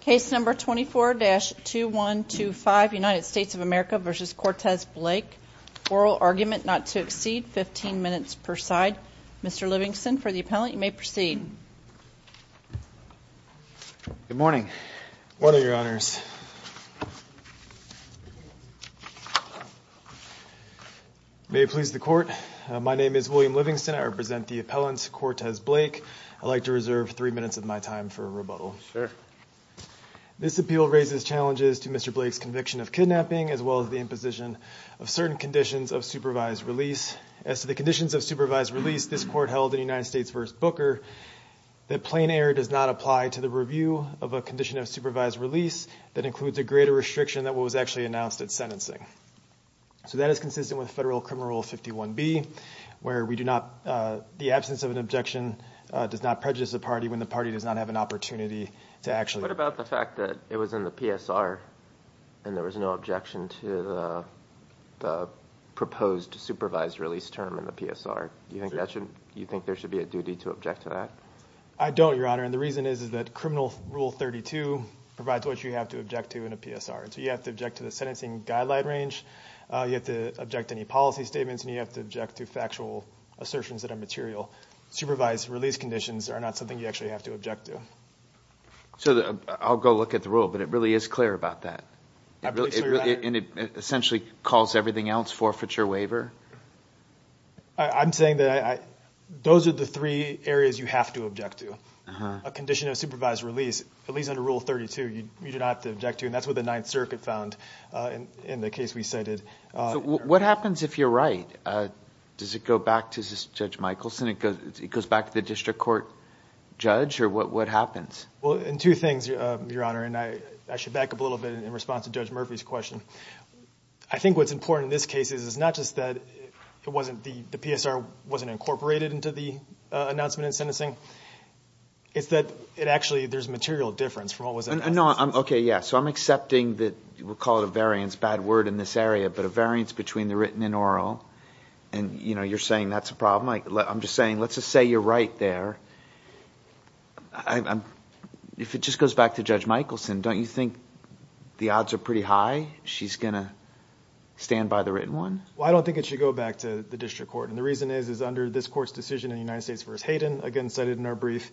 case number 24-2125 United States of America v. Cortez Blake oral argument not to exceed 15 minutes per side Mr. Livingston for the appellant you may proceed good morning what are your honors may it please the court my name is William Livingston I represent the appellants Cortez Blake I'd like to reserve three minutes of my time for a this appeal raises challenges to mr. Blake's conviction of kidnapping as well as the imposition of certain conditions of supervised release as to the conditions of supervised release this court held in United States v. Booker that plain error does not apply to the review of a condition of supervised release that includes a greater restriction that was actually announced at sentencing so that is consistent with federal criminal 51 B where we do not the absence of an objection does not prejudice the party when the party does not have an opportunity to actually what about the fact that it was in the PSR and there was no objection to the proposed supervised release term in the PSR you think that should you think there should be a duty to object to that I don't your honor and the reason is is that criminal rule 32 provides what you have to object to in a PSR so you have to object to the sentencing guideline range you have to object any policy statements and you have to object to factual assertions that are material supervised release conditions are not something you actually have to object to so I'll go look at the rule but it really is clear about that and it essentially calls everything else forfeiture waiver I'm saying that I those are the three areas you have to object to a condition of supervised release at least under rule 32 you do not object to and that's what the Ninth Circuit found in the case we cited what happens if you're right does it go back to judge Michaelson it goes it goes back the district court judge or what what happens well in two things your honor and I I should back up a little bit in response to judge Murphy's question I think what's important in this case is it's not just that it wasn't the the PSR wasn't incorporated into the announcement in sentencing it's that it actually there's material difference from what was I know I'm okay yeah so I'm accepting that we'll call it a variance bad word in this area but a variance between the written and oral and you know you're saying that's a right there I'm if it just goes back to judge Michaelson don't you think the odds are pretty high she's gonna stand by the written one well I don't think it should go back to the district court and the reason is is under this court's decision in the United States verse Hayden again cited in our brief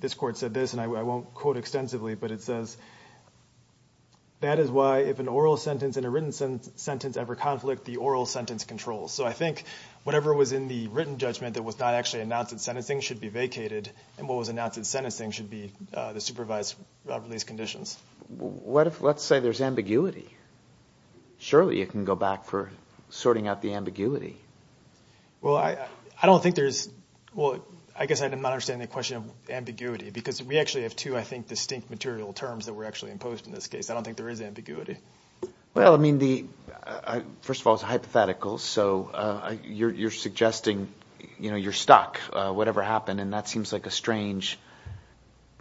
this court said this and I won't quote extensively but it says that is why if an oral sentence in a written sentence ever conflict the oral sentence controls so I think whatever was in the written judgment that was not actually announced in sentencing should be vacated and what was announced in sentencing should be the supervised release conditions what if let's say there's ambiguity surely you can go back for sorting out the ambiguity well I I don't think there's well I guess I did not understand the question of ambiguity because we actually have to I think distinct material terms that were actually imposed in this case I don't think there is ambiguity well I mean the first of all it's hypothetical so you're suggesting you know you're stuck whatever happened and that seems like a strange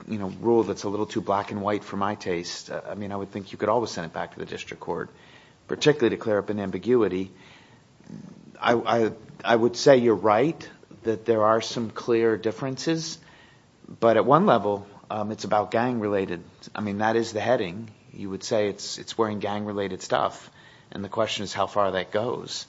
you know rule that's a little too black and white for my taste I mean I would think you could always send it back to the district court particularly to clear up an ambiguity I I would say you're right that there are some clear differences but at one level it's about gang related I mean that is the heading you would say it's it's wearing gang related stuff and the question is how far that goes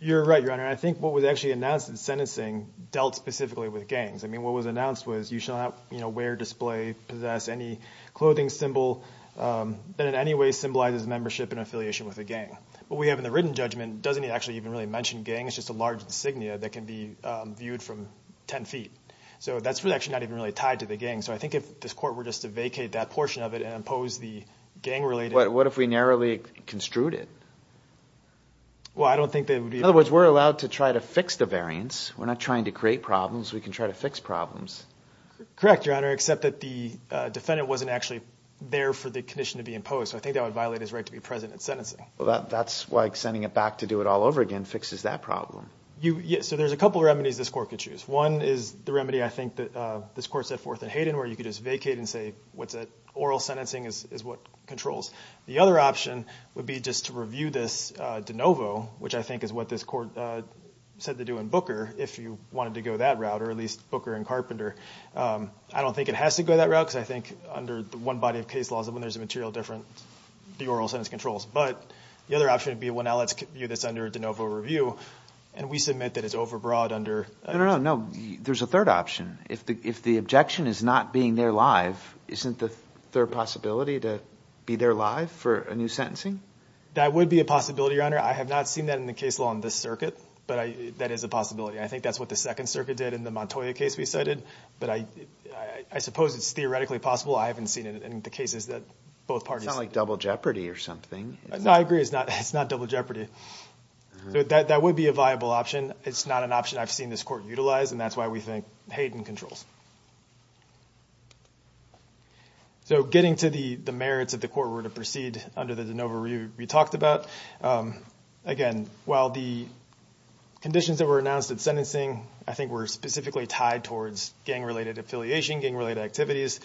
you're right your honor I think what was actually announced in sentencing dealt specifically with gangs I mean what was announced was you shall not you know wear display possess any clothing symbol that in any way symbolizes membership in affiliation with a gang but we have in the written judgment doesn't he actually even really mentioned gang it's just a large insignia that can be viewed from 10 feet so that's really actually not even really tied to the gang so I think if this court were just to vacate that portion of it and impose the gang related what if we narrowly construed it well I don't think they would be other words we're allowed to try to fix the variance we're not trying to create problems we can try to fix problems correct your honor except that the defendant wasn't actually there for the condition to be imposed I think that would violate his right to be present at sentencing well that's like sending it back to do it all over again fixes that problem you yeah so there's a couple remedies this court could choose one is the remedy I think that this court set forth in Hayden where you could just vacate and say what's that oral sentencing is what controls the other option would be just to review this de novo which I think is what this court said to do in Booker if you wanted to go that route or at least Booker and Carpenter I don't think it has to go that route because I think under the one body of case laws of when there's a material different the oral sentence controls but the other option would be well now let's give you this under de novo review and we submit that it's overbroad under no no there's a third option if the if the objection is not being there live isn't the third possibility to be there live for a new sentencing that would be a possibility your honor I have not seen that in the case law on this circuit but I that is a possibility I think that's what the Second Circuit did in the Montoya case we cited but I I suppose it's theoretically possible I haven't seen it in the cases that both parties like double jeopardy or something no I agree it's not it's not double jeopardy so that that would be a viable option it's not an option I've seen this court utilize and that's why we think Hayden controls so getting to the the merits of the court were to proceed under the de novo review we talked about again while the conditions that were announced at sentencing I think were specifically tied towards gang related affiliation gang related activities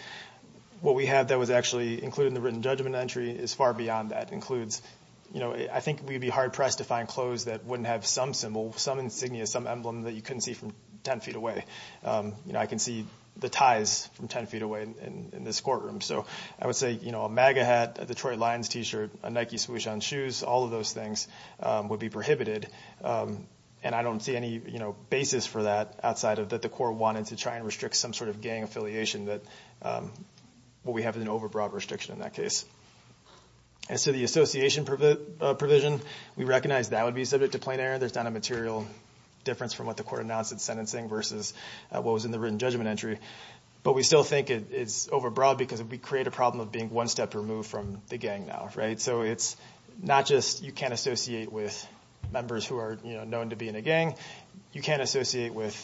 what we have that was actually included in the written judgment entry is far beyond that includes you know I think we'd be hard-pressed to find clothes that wouldn't have some symbol some insignia some emblem that you couldn't see from 10 feet away you know I can see the ties from 10 feet away in this courtroom so I would say you know a MAGA hat Detroit Lions t-shirt a Nike swoosh on shoes all of those things would be prohibited and I don't see any you know basis for that outside of that the court wanted to try and restrict some sort of gang affiliation that what we have is an overbroad restriction in that case and so the association provision we recognize that would be subject to plenary there's not a material difference from what the court announced at sentencing versus what was in the written judgment entry but we still think it's overbroad because if we create a problem of being one step removed from the gang now right so it's not just you can't associate with members who are you know known to be in a gang you can't associate with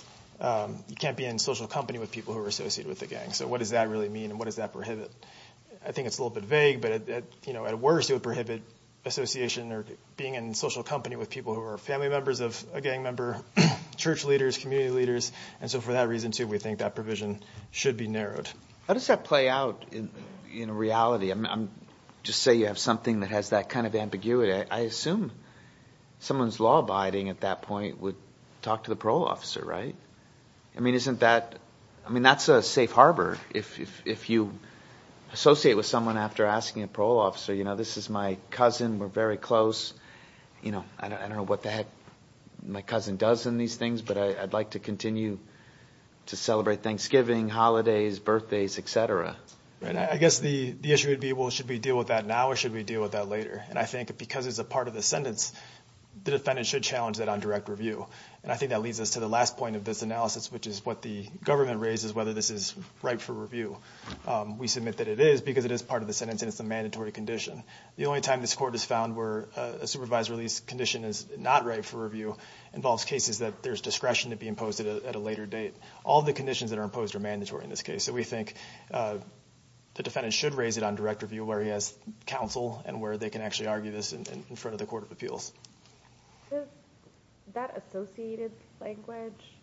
you can't be in social company with people who are associated with the gang so what does that really mean and what does that prohibit I think it's a little bit vague but you know at worst it would prohibit association or being in social company with people who are family members of a gang member church leaders community leaders and so for that reason too we think that provision should be narrowed how does that play out in reality I'm just say you have something that has that kind of ambiguity I assume someone's law-abiding at that point would talk to the parole officer right I mean isn't that I mean that's a safe harbor if you associate with someone after asking a parole officer you know this is my cousin we're very close you know I don't know what the heck my cousin does in these things but I'd like to continue to celebrate Thanksgiving holidays birthdays etc and I guess the the issue would be well should we deal with that now or should we deal with that later and I think because it's a part of the sentence the defendant should challenge that on direct review and I think that leads us to the last point of this analysis which is what the government raises whether this is right for review we submit that it is because it is part of the sentence and it's a mandatory condition the only time this court is found where a supervised release condition is not right for review involves cases that there's discretion to be imposed at a later date all the conditions that are imposed are mandatory in this case so we think the defendant should raise it on direct review where he has counsel and where they can actually argue this in front of the Court of Appeals that associated language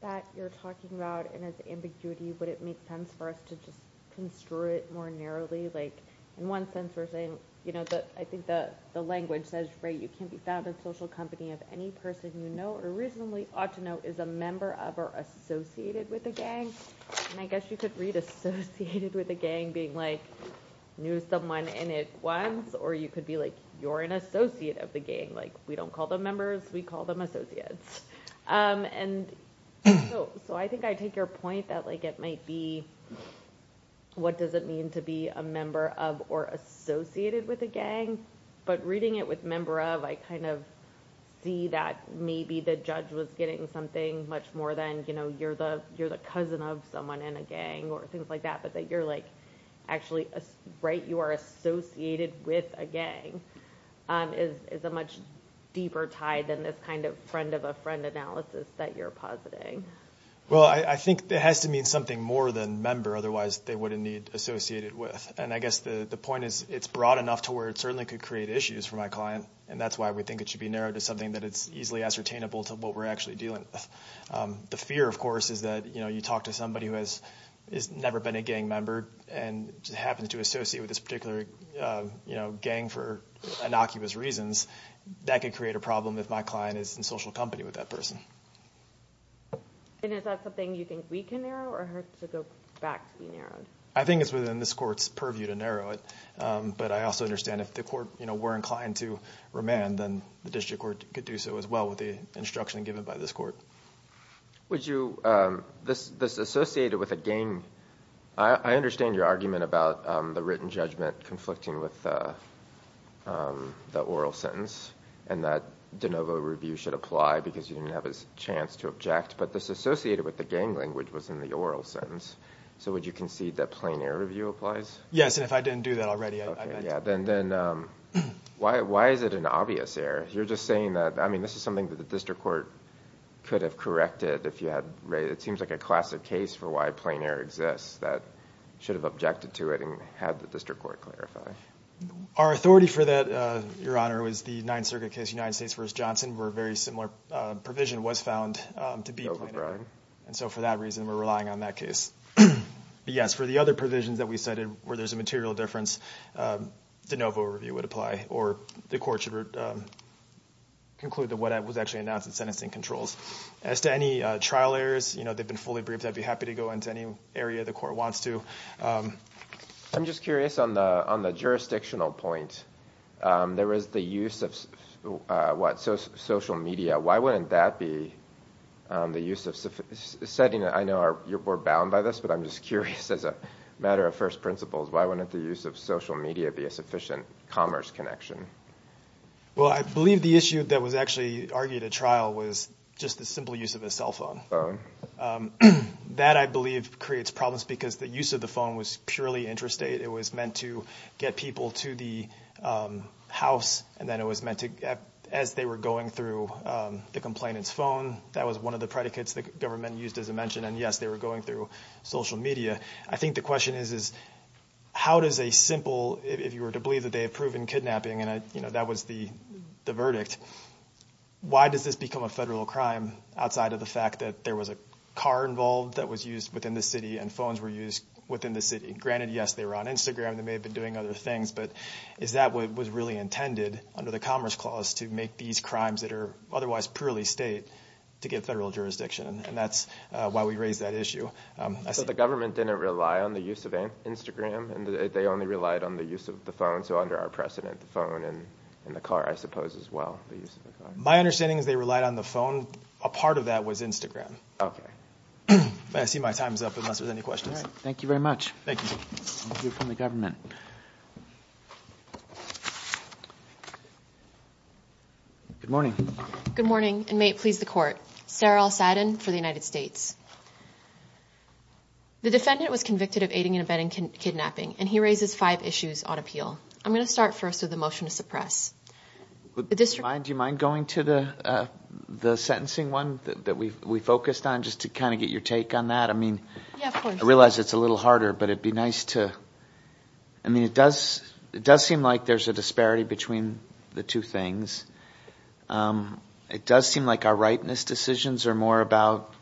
that you're talking about and it's ambiguity but it makes sense for us to just construe it more narrowly like in one sense we're saying you know that I think that the language says right you can't be found in social company of any person you know or recently ought to know is a member of or associated with the gang and I guess you could read associated with a gang being like knew someone in it once or you could be like you're an associate of the gang like we don't call them members we call them associates and so I think I take your that like it might be what does it mean to be a member of or associated with a gang but reading it with member of I kind of see that maybe the judge was getting something much more than you know you're the you're the cousin of someone in a gang or things like that but that you're like actually right you are associated with a gang is a much deeper tide than this kind of friend of friend analysis that you're positing well I think there has to mean something more than member otherwise they wouldn't need associated with and I guess the point is it's broad enough to where it certainly could create issues for my client and that's why we think it should be narrowed to something that it's easily ascertainable to what we're actually dealing with the fear of course is that you know you talk to somebody who has is never been a gang member and just happens to associate with this particular you know gang for innocuous reasons that could create a problem if my client is in social company with that person I think it's within this courts purview to narrow it but I also understand if the court you know we're inclined to remand then the district court could do so as well with the instruction given by this court would you this this associated with a game I understand your argument about the written judgment conflicting with the oral sentence and that de novo review should apply because you didn't have a chance to object but this associated with the gang language was in the oral sentence so would you concede that plain air review applies yes if I didn't do that already yeah then then why why is it an obvious error you're just saying that I mean this is something that the district court could have corrected if you had right it seems like a classic case for why plain air exists that should have objected to it and had the district court clarify our authority for that your honor was the Ninth Circuit case United States vs. Johnson were very similar provision was found to be over and so for that reason we're relying on that case yes for the other provisions that we cited where there's a material difference de novo review would apply or the court should conclude that what I was actually announced in sentencing controls as to any trial errors you know they've been fully briefed I'd be happy to go into any area the court wants to I'm just curious on the on the jurisdictional point there is the use of what social media why wouldn't that be the use of setting I know our you're bound by this but I'm just curious as a matter of first principles why wouldn't the use of social media be a sufficient commerce connection well I believe the issue that was actually argued a trial was just the simple use of a cell phone that I believe creates problems because the use of the phone was purely interstate it was meant to get people to the house and then it was meant to get as they were going through the complainants phone that was one of the predicates the government used as a mention and yes they were going through social media I think the question is is how does a simple if you were to believe that they have proven kidnapping and I you know that was the the verdict why does this become a federal crime outside of the fact that there was a car involved that was used within the city and phones were used within the city granted yes they were on Instagram they may have been doing other things but is that what was really intended under the Commerce Clause to make these crimes that are otherwise purely state to get federal jurisdiction and that's why we raised that issue I said the government didn't rely on the use of a Instagram and they only relied on the use of the phone so under our precedent the phone and in the car I suppose as well my understanding is they relied on the phone a part of that was Instagram okay I see my time's up unless there's any questions thank you very much thank you from the government good morning good morning and may it please the court Sarah Al-Sadin for the United States the defendant was convicted of aiding and abetting kidnapping and he raises five issues on appeal I'm gonna start first with the motion to suppress the district mind you mind going to the the sentencing one that we focused on just to kind of get your take on that I mean I realize it's a little harder but it'd be nice to I mean it does it does seem like there's a disparity between the two things it does seem like our rightness decisions are more about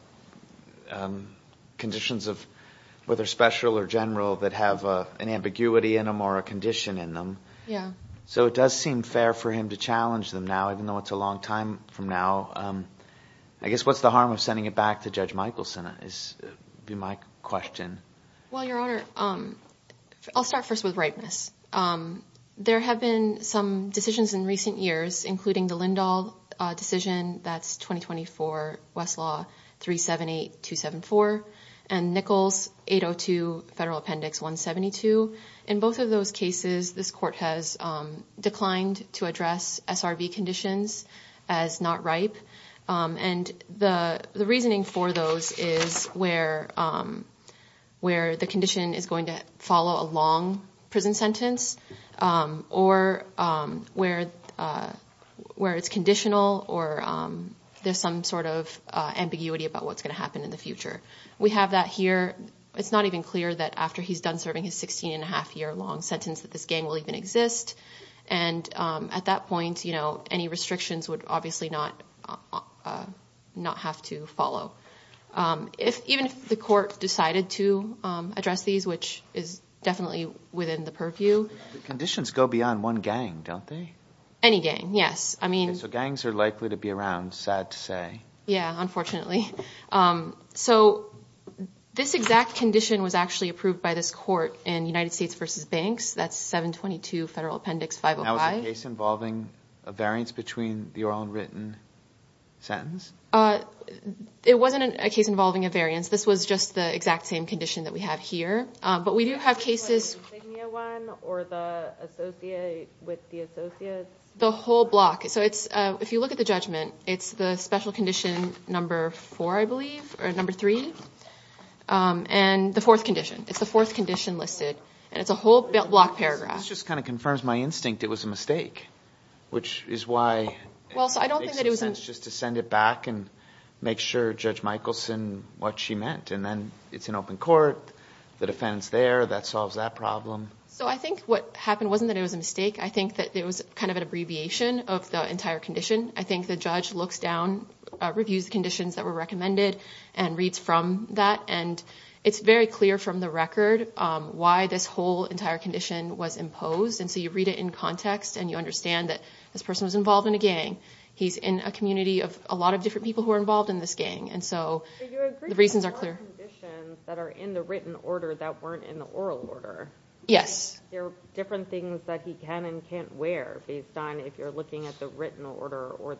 conditions of whether special or general that have an ambiguity in a more a condition in them yeah so it does seem fair for him to challenge them now even though it's a long time from now I guess what's the harm of sending it back to judge Michaelson is be my question well your honor um I'll start first with rightness there have been some decisions in recent years including the Lindahl decision that's 2024 Westlaw 378 274 and Nichols 802 federal appendix 172 in both of those cases this court has declined to address SRV conditions as not ripe and the reasoning for those is where where the condition is going to follow a long prison sentence or where where it's conditional or there's some sort of ambiguity about what's going to happen in the future we have that here it's not even clear that after he's done serving his 16 and a half year long sentence that this gang will even exist and at that point you know any restrictions would obviously not not have to follow if even if the court decided to address these which is definitely within the purview conditions go beyond one gang don't they any gang yes I mean so gangs are likely to be around sad to say yeah unfortunately so this exact condition was actually approved by this court in United States versus banks that's 722 federal appendix 509 case involving a variance between the oral and written sentence uh it wasn't a case involving a variance this was just the exact same condition that we have here but we do have cases the whole block so it's if you look at the judgment it's the special condition number four I and the fourth condition it's the fourth condition listed and it's a whole block paragraph just kind of confirms my instinct it was a mistake which is why well so I don't think that it was just to send it back and make sure judge Michelson what she meant and then it's an open court the defense there that solves that problem so I think what happened wasn't that it was a mistake I think that there was kind of an abbreviation of the entire condition I think the judge looks down reviews conditions that were recommended and reads from that and it's very clear from the record why this whole entire condition was imposed and so you read it in context and you understand that this person was involved in a gang he's in a community of a lot of different people who are involved in this gang and so the reasons are clear that are in the written order that weren't in the oral order yes there are different things that he can and can't wear based on if you're looking at the written order or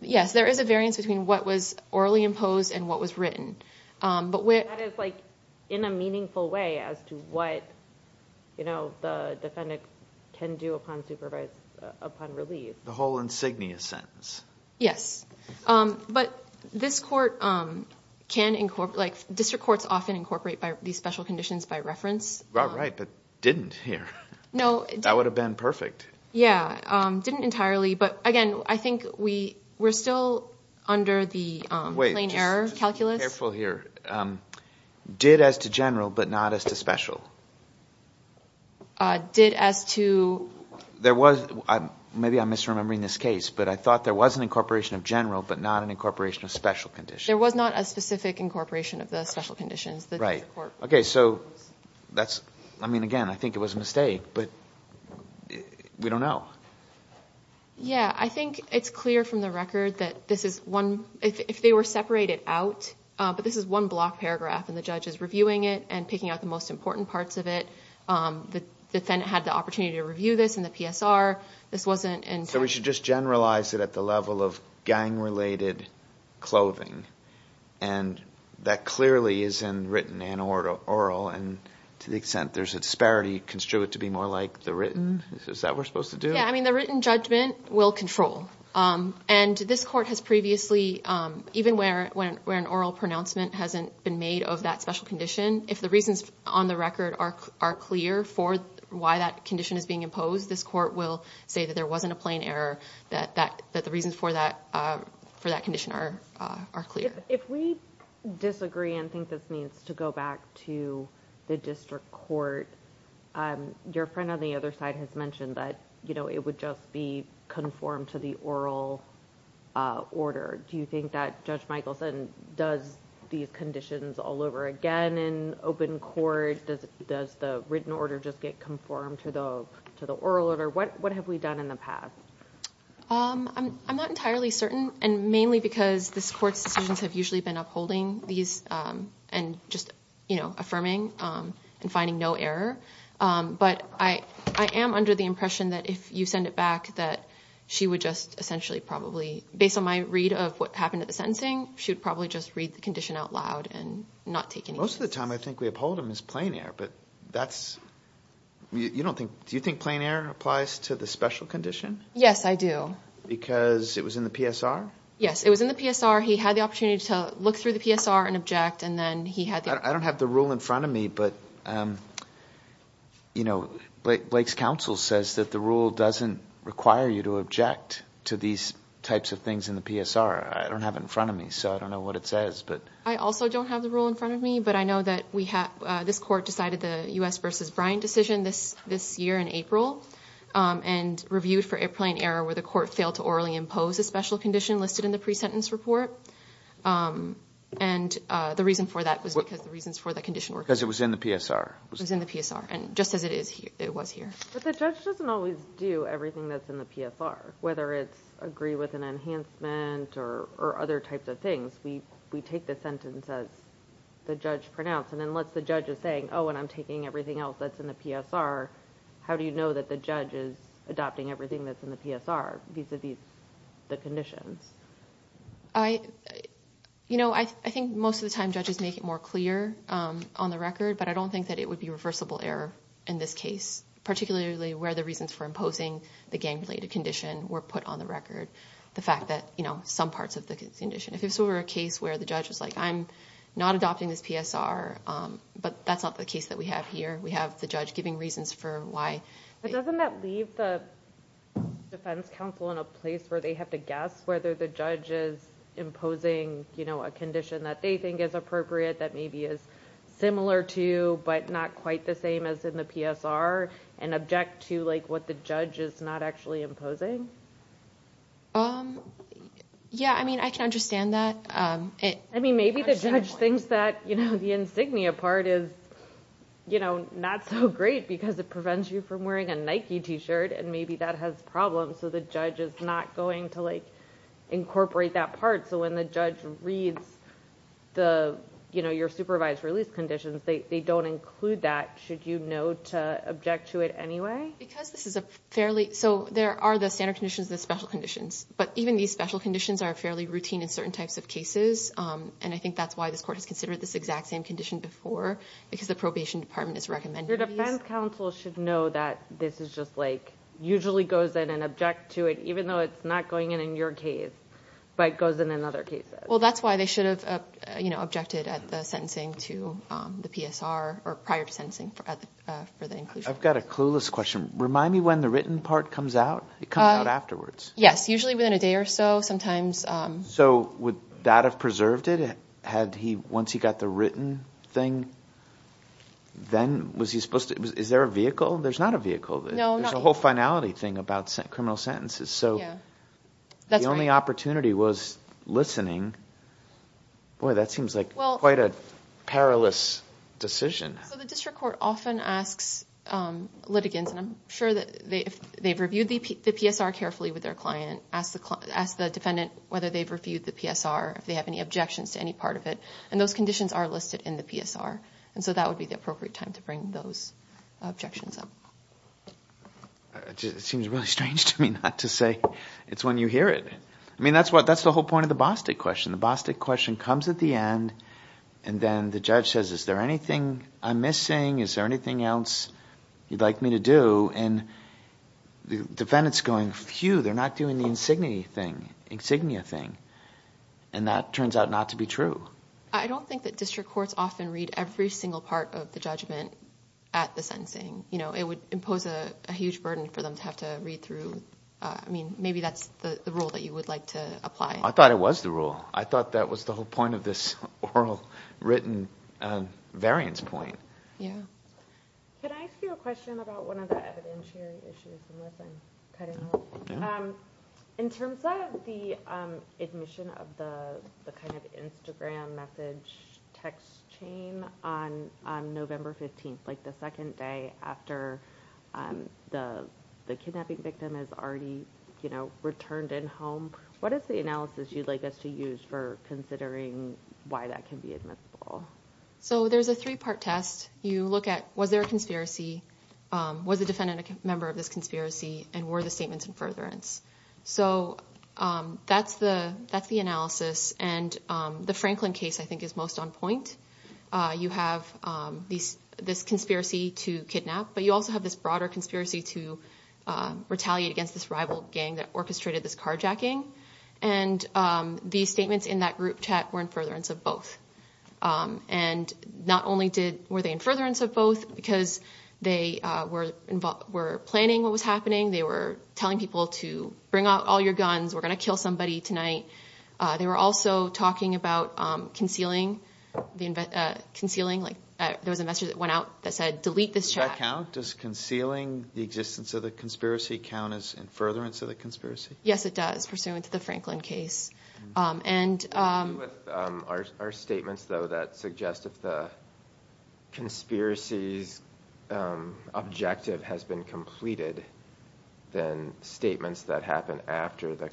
yes there is a variance between what was orally imposed and what was written but where it's like in a meaningful way as to what you know the defendant can do upon supervised upon relief the whole insignia sentence yes but this court can incorporate district courts often incorporate by these special conditions by reference right but didn't here no that would have been perfect yeah didn't entirely but again I think we were still under the plane error calculus here did as to general but not as to special did as to there was maybe I'm misremembering this case but I thought there was an incorporation of general but not an incorporation of special condition there was not a specific incorporation of the special conditions that right okay so that's I mean again I was a mistake but we don't know yeah I think it's clear from the record that this is one if they were separated out but this is one block paragraph and the judge is reviewing it and picking out the most important parts of it the defendant had the opportunity to review this in the PSR this wasn't and so we should just generalize it at the level of gang related clothing and that clearly is in written and order oral and to the extent there's a disparity construe it to be more like the written is that we're supposed to do I mean the written judgment will control and this court has previously even where when where an oral pronouncement hasn't been made of that special condition if the reasons on the record are are clear for why that condition is being imposed this court will say that there wasn't a plane error that that that the reasons for that for that condition are are clear. If we disagree and think this needs to go back to the district court your friend on the other side has mentioned that you know it would just be conformed to the oral order do you think that Judge Michaelson does these conditions all over again in open court does it does the written order just get conformed to the to the oral order what what have we done in the past? I'm not entirely certain and mainly because this court's decisions have usually been upholding these and just you know affirming and finding no error but I I am under the impression that if you send it back that she would just essentially probably based on my read of what happened at the sentencing should probably just read the condition out loud and not take any Most of the time I think we uphold them as plane error but that's you don't think Do you think plane error applies to the special condition? Yes I do. Because it was in the PSR? Yes it was in the PSR he had the opportunity to look through the PSR and object and then he had I don't have the rule in front of me but you know Blake Blake's counsel says that the rule doesn't require you to object to these types of things in the PSR I don't have it in front of me so I don't know what it says but I also don't have the rule in front of me but I know that we have this court decided the u.s. versus Brian decision this this year in April and reviewed for airplane error where the court failed to orally impose a special condition listed in the pre-sentence report and the reason for that was because the reasons for that condition were because it was in the PSR was in the PSR and just as it is here it was here but the judge doesn't always do everything that's in the PSR whether it's agree with an enhancement or other types of things we we take the sentence as the judge pronounced and then let the judge is saying oh and I'm taking everything else that's in the PSR how do you know that the judge is adopting everything that's in the PSR these are these the conditions I you know I think most of the time judges make it more clear on the record but I don't think that it would be reversible error in this case particularly where the reasons for imposing the gang-related condition were put on the record the fact that you know some parts of the condition if it's a case where the judge is like I'm not adopting this PSR but that's not the case that we have here we have the judge giving reasons for why but doesn't that leave the Defense Council in a place where they have to guess whether the judge is imposing you know a condition that they think is appropriate that maybe is similar to but not quite the same as in the PSR and object to like what the judge is not actually imposing um yeah I mean I can understand that it I mean maybe the judge thinks that you know the insignia part is you know not so great because it prevents you from wearing a Nike t-shirt and maybe that has problems so the judge is not going to like incorporate that part so when the judge reads the you know your supervised release conditions they don't include that should you know to object to it anyway because this is a fairly so there are the standard conditions the special conditions but even these special conditions are fairly routine in certain types of cases and I think that's why this court has considered this exact same condition before because the probation department is recommended your defense counsel should know that this is just like usually goes in and object to it even though it's not going in in your case but goes in another case well that's why they should have you know at the sentencing to the PSR or prior to sensing I've got a clueless question remind me when the written part comes out it comes out afterwards yes usually within a day or so sometimes so would that have preserved it had he once he got the written thing then was he supposed to is there a vehicle there's not a vehicle there's a whole finality thing about sent criminal sentences so that's the only opportunity was listening boy that seems like well quite a perilous decision the district court often asks litigants and I'm sure that they if they've reviewed the PSR carefully with their client ask the client ask the defendant whether they've reviewed the PSR if they have any objections to any part of it and those conditions are listed in the PSR and so that would be the appropriate time to bring those objections up it seems strange to me not to say it's when you hear it I mean that's what that's the whole point of the Boston question the Boston question comes at the end and then the judge says is there anything I'm missing is there anything else you'd like me to do and the defendants going few they're not doing the insignia thing insignia thing and that turns out not to be true I don't think that district courts often read every single part of the judgment at the sentencing you know it would impose a huge burden for them to have to read through I mean maybe that's the rule that you would like to apply I thought it was the rule I thought that was the whole point of this oral written variance point in terms of the admission of the kind of Instagram message text chain on November 15th like the second day after the the kidnapping victim is already you know returned in home what is the analysis you'd like us to use for considering why that can be admissible so there's a three-part test you look at was there a conspiracy was the defendant a member of this conspiracy and were the statements in furtherance so that's the that's the analysis and the Franklin case I think is most on point you have this conspiracy to kidnap but you also have this broader conspiracy to retaliate against this rival gang that orchestrated this carjacking and the statements in that group chat were in furtherance of both and not only did were they in furtherance of both because they were involved were planning what was happening they were telling people to bring out all your guns we're gonna kill somebody tonight they were also talking about concealing the invent concealing like there was a message that went out that said delete this chat count does concealing the existence of the conspiracy count as in furtherance of the conspiracy yes it does pursuant to the Franklin case and our statements though that suggest if the conspiracies objective has been completed then statements that happen after the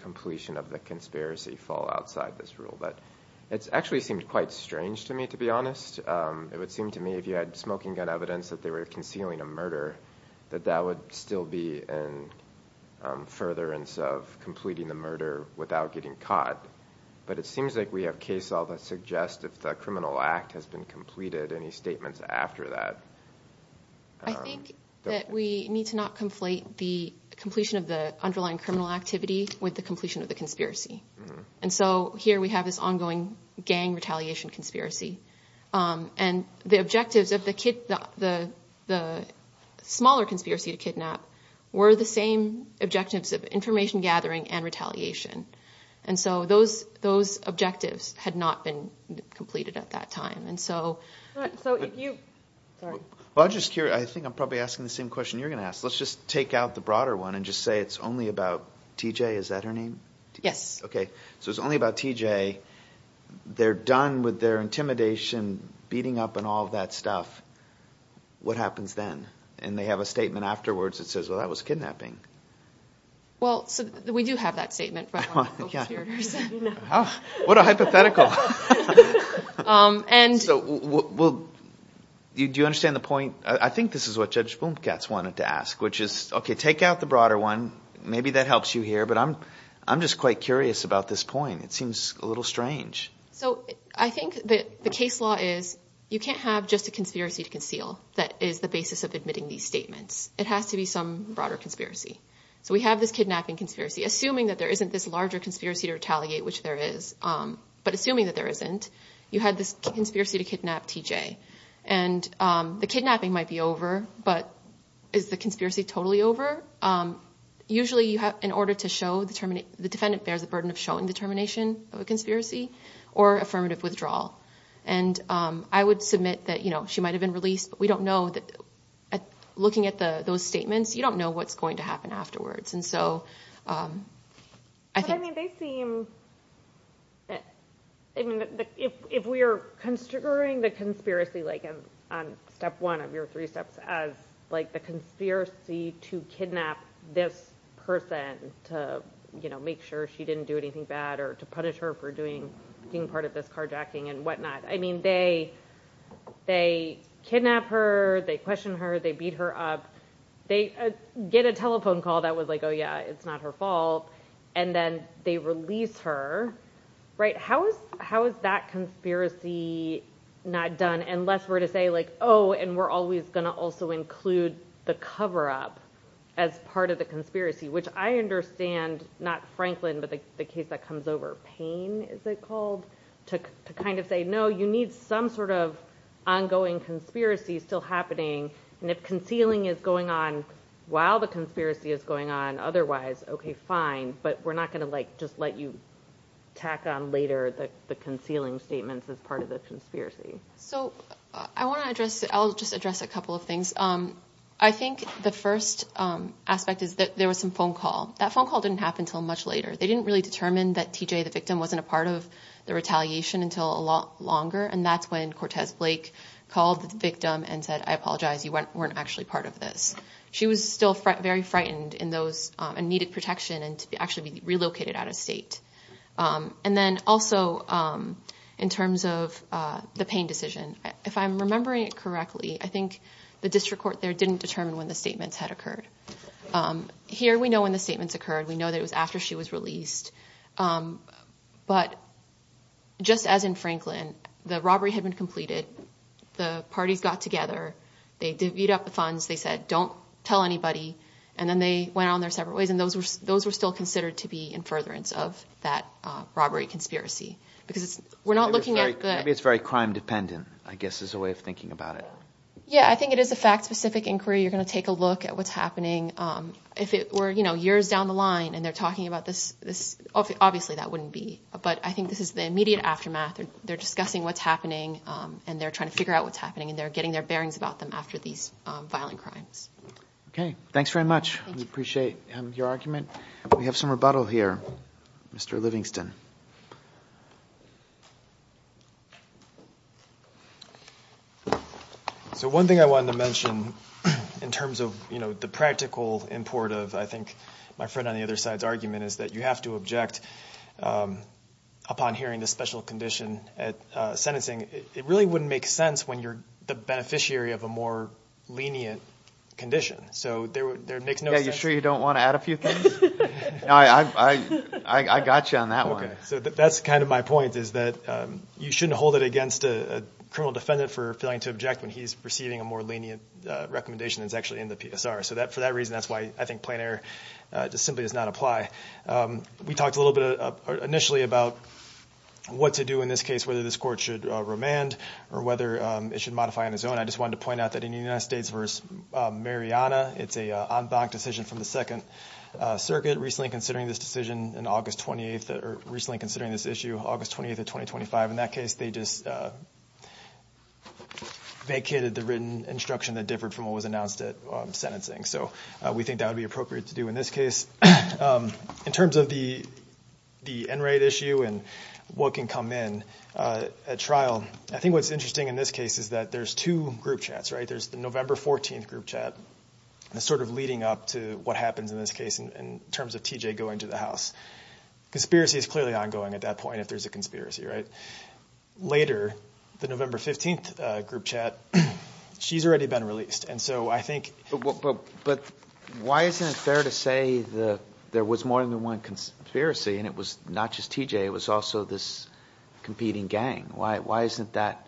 conspiracy fall outside this rule but it's actually seemed quite strange to me to be honest it would seem to me if you had smoking gun evidence that they were concealing a murder that that would still be in furtherance of completing the murder without getting caught but it seems like we have case all that suggest if the criminal act has been completed any statements after that I think that we need to not conflate the completion of the underlying criminal activity with the completion of the conspiracy and so here we have this ongoing gang retaliation conspiracy and the objectives of the kid the smaller conspiracy to kidnap were the same objectives of information gathering and retaliation and so those those objectives had not been completed at that time and so I just think I'm probably asking the same question you're gonna ask let's just take out the one and just say it's only about TJ is that her name yes okay so it's only about TJ they're done with their intimidation beating up and all of that stuff what happens then and they have a statement afterwards it says well that was kidnapping well so we do have that statement what a hypothetical and so will you do you understand the point I think this is what judge boom cats wanted to ask which is okay take out the broader one maybe that helps you here but I'm I'm just quite curious about this point it seems a little strange so I think that the case law is you can't have just a conspiracy to conceal that is the basis of admitting these statements it has to be some broader conspiracy so we have this kidnapping conspiracy assuming that there isn't this larger conspiracy to retaliate which there is but assuming that there isn't you had this conspiracy to kidnap TJ and the kidnapping might be but is the conspiracy totally over usually you have in order to show the terminate the defendant bears the burden of showing the termination of a conspiracy or affirmative withdrawal and I would submit that you know she might have been released but we don't know that looking at the those statements you don't know what's going to happen afterwards and so I think I mean they seem I mean if we are considering the conspiracy like in step one of your three steps as like the conspiracy to kidnap this person to you know make sure she didn't do anything bad or to punish her for doing being part of this carjacking and whatnot I mean they they kidnap her they question her they beat her up they get a telephone call that was like oh yeah it's not her fault and then they release her right how is how is that conspiracy not done unless we're to say like oh and we're always going to also include the cover-up as part of the conspiracy which I understand not Franklin but the case that comes over pain is it called to kind of say no you need some sort of ongoing conspiracy still happening and if concealing is going on while the conspiracy is going on otherwise okay fine but we're not going to like just let you tack on later the concealing statements as part of the conspiracy so I want to address I'll just address a couple of things um I think the first aspect is that there was some phone call that phone call didn't happen till much later they didn't really determine that TJ the victim wasn't a part of the retaliation until a lot longer and that's when Cortez Blake called the victim and said I apologize you weren't actually part of this she was still very frightened in those and needed protection and to be actually relocated out of state and then also in terms of the pain decision if I'm remembering it correctly I think the district court there didn't determine when the statements had occurred here we know when the statements occurred we know that it was after she was released but just as in Franklin the robbery had been completed the parties got together they did beat up the funds they said don't tell anybody and then they went on their separate ways and those were those were still considered to be in furtherance of that robbery conspiracy because we're not looking at that it's very crime dependent I guess is a way of thinking about it yeah I think it is a fact-specific inquiry you're gonna take a look at what's happening if it were you know years down the line and they're talking about this this obviously that wouldn't be but I think this is the immediate aftermath or they're discussing what's happening and they're trying to figure out what's happening and they're getting their bearings about them after these violent crimes okay thanks very much we appreciate your argument we have some rebuttal here mr. Livingston so one thing I wanted to mention in terms of you know the practical import of I think my friend on the other side's argument is that you have to object upon hearing the special condition at sentencing it really wouldn't make sense when you're the beneficiary of a more lenient condition so there makes no you sure you don't want to add a few things I got you on that one so that's kind of my point is that you shouldn't hold it against a criminal defendant for failing to object when he's receiving a more lenient recommendation that's actually in the PSR so that for that reason that's why I think plainer just simply does not apply we talked a little bit initially about what to do in this case whether this court should remand or whether it should modify on his own I just wanted to point out that in the United States versus Mariana it's a on-bond decision from the Second Circuit recently considering this decision in August 28th or recently considering this issue August 28th of 2025 in that case they just vacated the written instruction that differed from what was announced at sentencing so we think that would be appropriate to do in this case in terms of the the n-rate issue and what can come in at trial I think what's interesting in this case is that there's two group chats right there's the November 14th group chat and sort of leading up to what happens in this case in terms of TJ going to the house conspiracy is clearly ongoing at that point if there's a conspiracy right later the November 15th group chat she's already been released and so I think but why isn't it fair to say the there was more than one conspiracy and it was not just TJ it was also this competing gang why why isn't that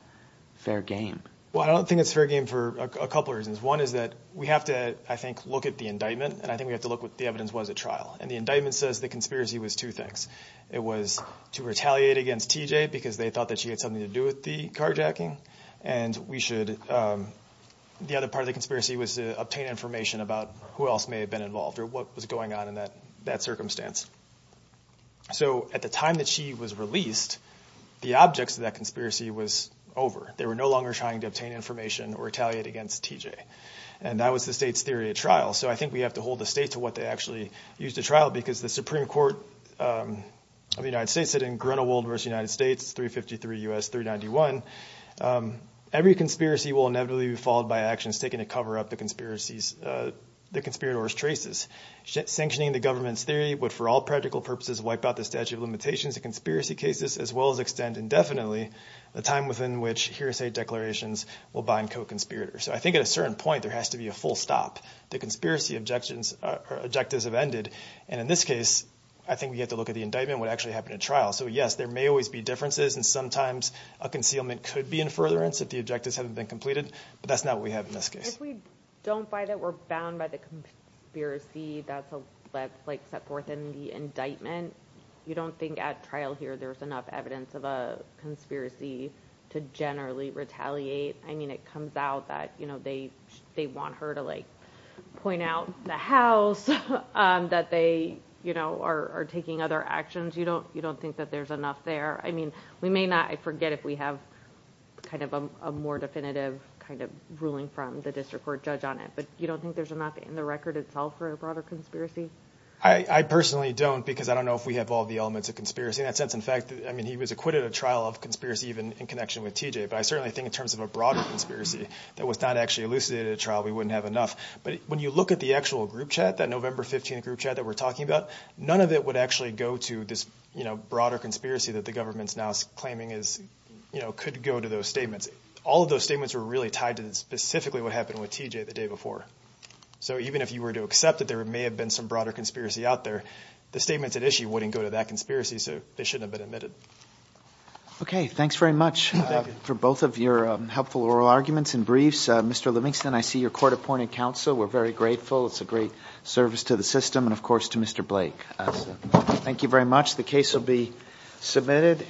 fair game well I don't think it's fair game for a couple reasons one is that we have to I think look at the indictment and I think we have to look what the evidence was at trial and the indictment says the conspiracy was two things it was to retaliate against TJ because they thought that she had something to do with the carjacking and we should the other part of the conspiracy was to obtain information about who else may have been involved or what was going on in that that circumstance so at the time that she was released the objects of that conspiracy was over they were no longer trying to obtain information or retaliate against TJ and that was the state's theory at trial so I think we have to hold the state to what they actually used to trial because the Supreme Court of the United States said in Grinnell Waldvorst United States 353 US 391 every conspiracy will inevitably be followed by actions taken to cover up the conspiracies the conspirators traces sanctioning the government's theory would for all practical purposes wipe out the statute of limitations the conspiracy cases as well as extend indefinitely the time within which hearsay declarations will bind co-conspirators so I think at a certain point there has to be a full stop the conspiracy objections or objectives have ended and in this case I think we have to look at the indictment what actually happened at trial so yes there may always be differences and sometimes a concealment could be in furtherance if the objectives haven't been completed but that's not what we have in this case we don't buy that we're bound by the conspiracy that's a let's like set forth in the indictment you don't think at trial here there's enough evidence of a conspiracy to generally retaliate I mean it comes out that you know they they want her to like point out the house that they you know are taking other actions you don't you don't think that there's enough there I mean we may not I forget if we have kind of a more definitive kind of ruling from the district court judge on it but you don't think there's enough in the record itself for a broader conspiracy I I personally don't because I don't know if we have all the elements of conspiracy in that sense in fact I mean he was acquitted of trial of conspiracy even in connection with TJ but I certainly think in terms of a broader conspiracy that was not actually elucidated a trial we wouldn't have enough but when you look at the actual group chat that November 15 group chat that we're talking about none of it would actually go to this you know broader conspiracy that the government's now claiming is you know could go to those statements all of those statements were really tied to this specifically what happened with TJ the day before so even if you were to accept that there may have been some broader conspiracy out there the statements at issue wouldn't go to that conspiracy so they shouldn't have been admitted okay thanks very much for both of your helpful oral arguments and briefs mr. Livingston I see your court appointed counsel we're very grateful it's a great service to the system and of course to mr. Blake thank you very much the case will be submitted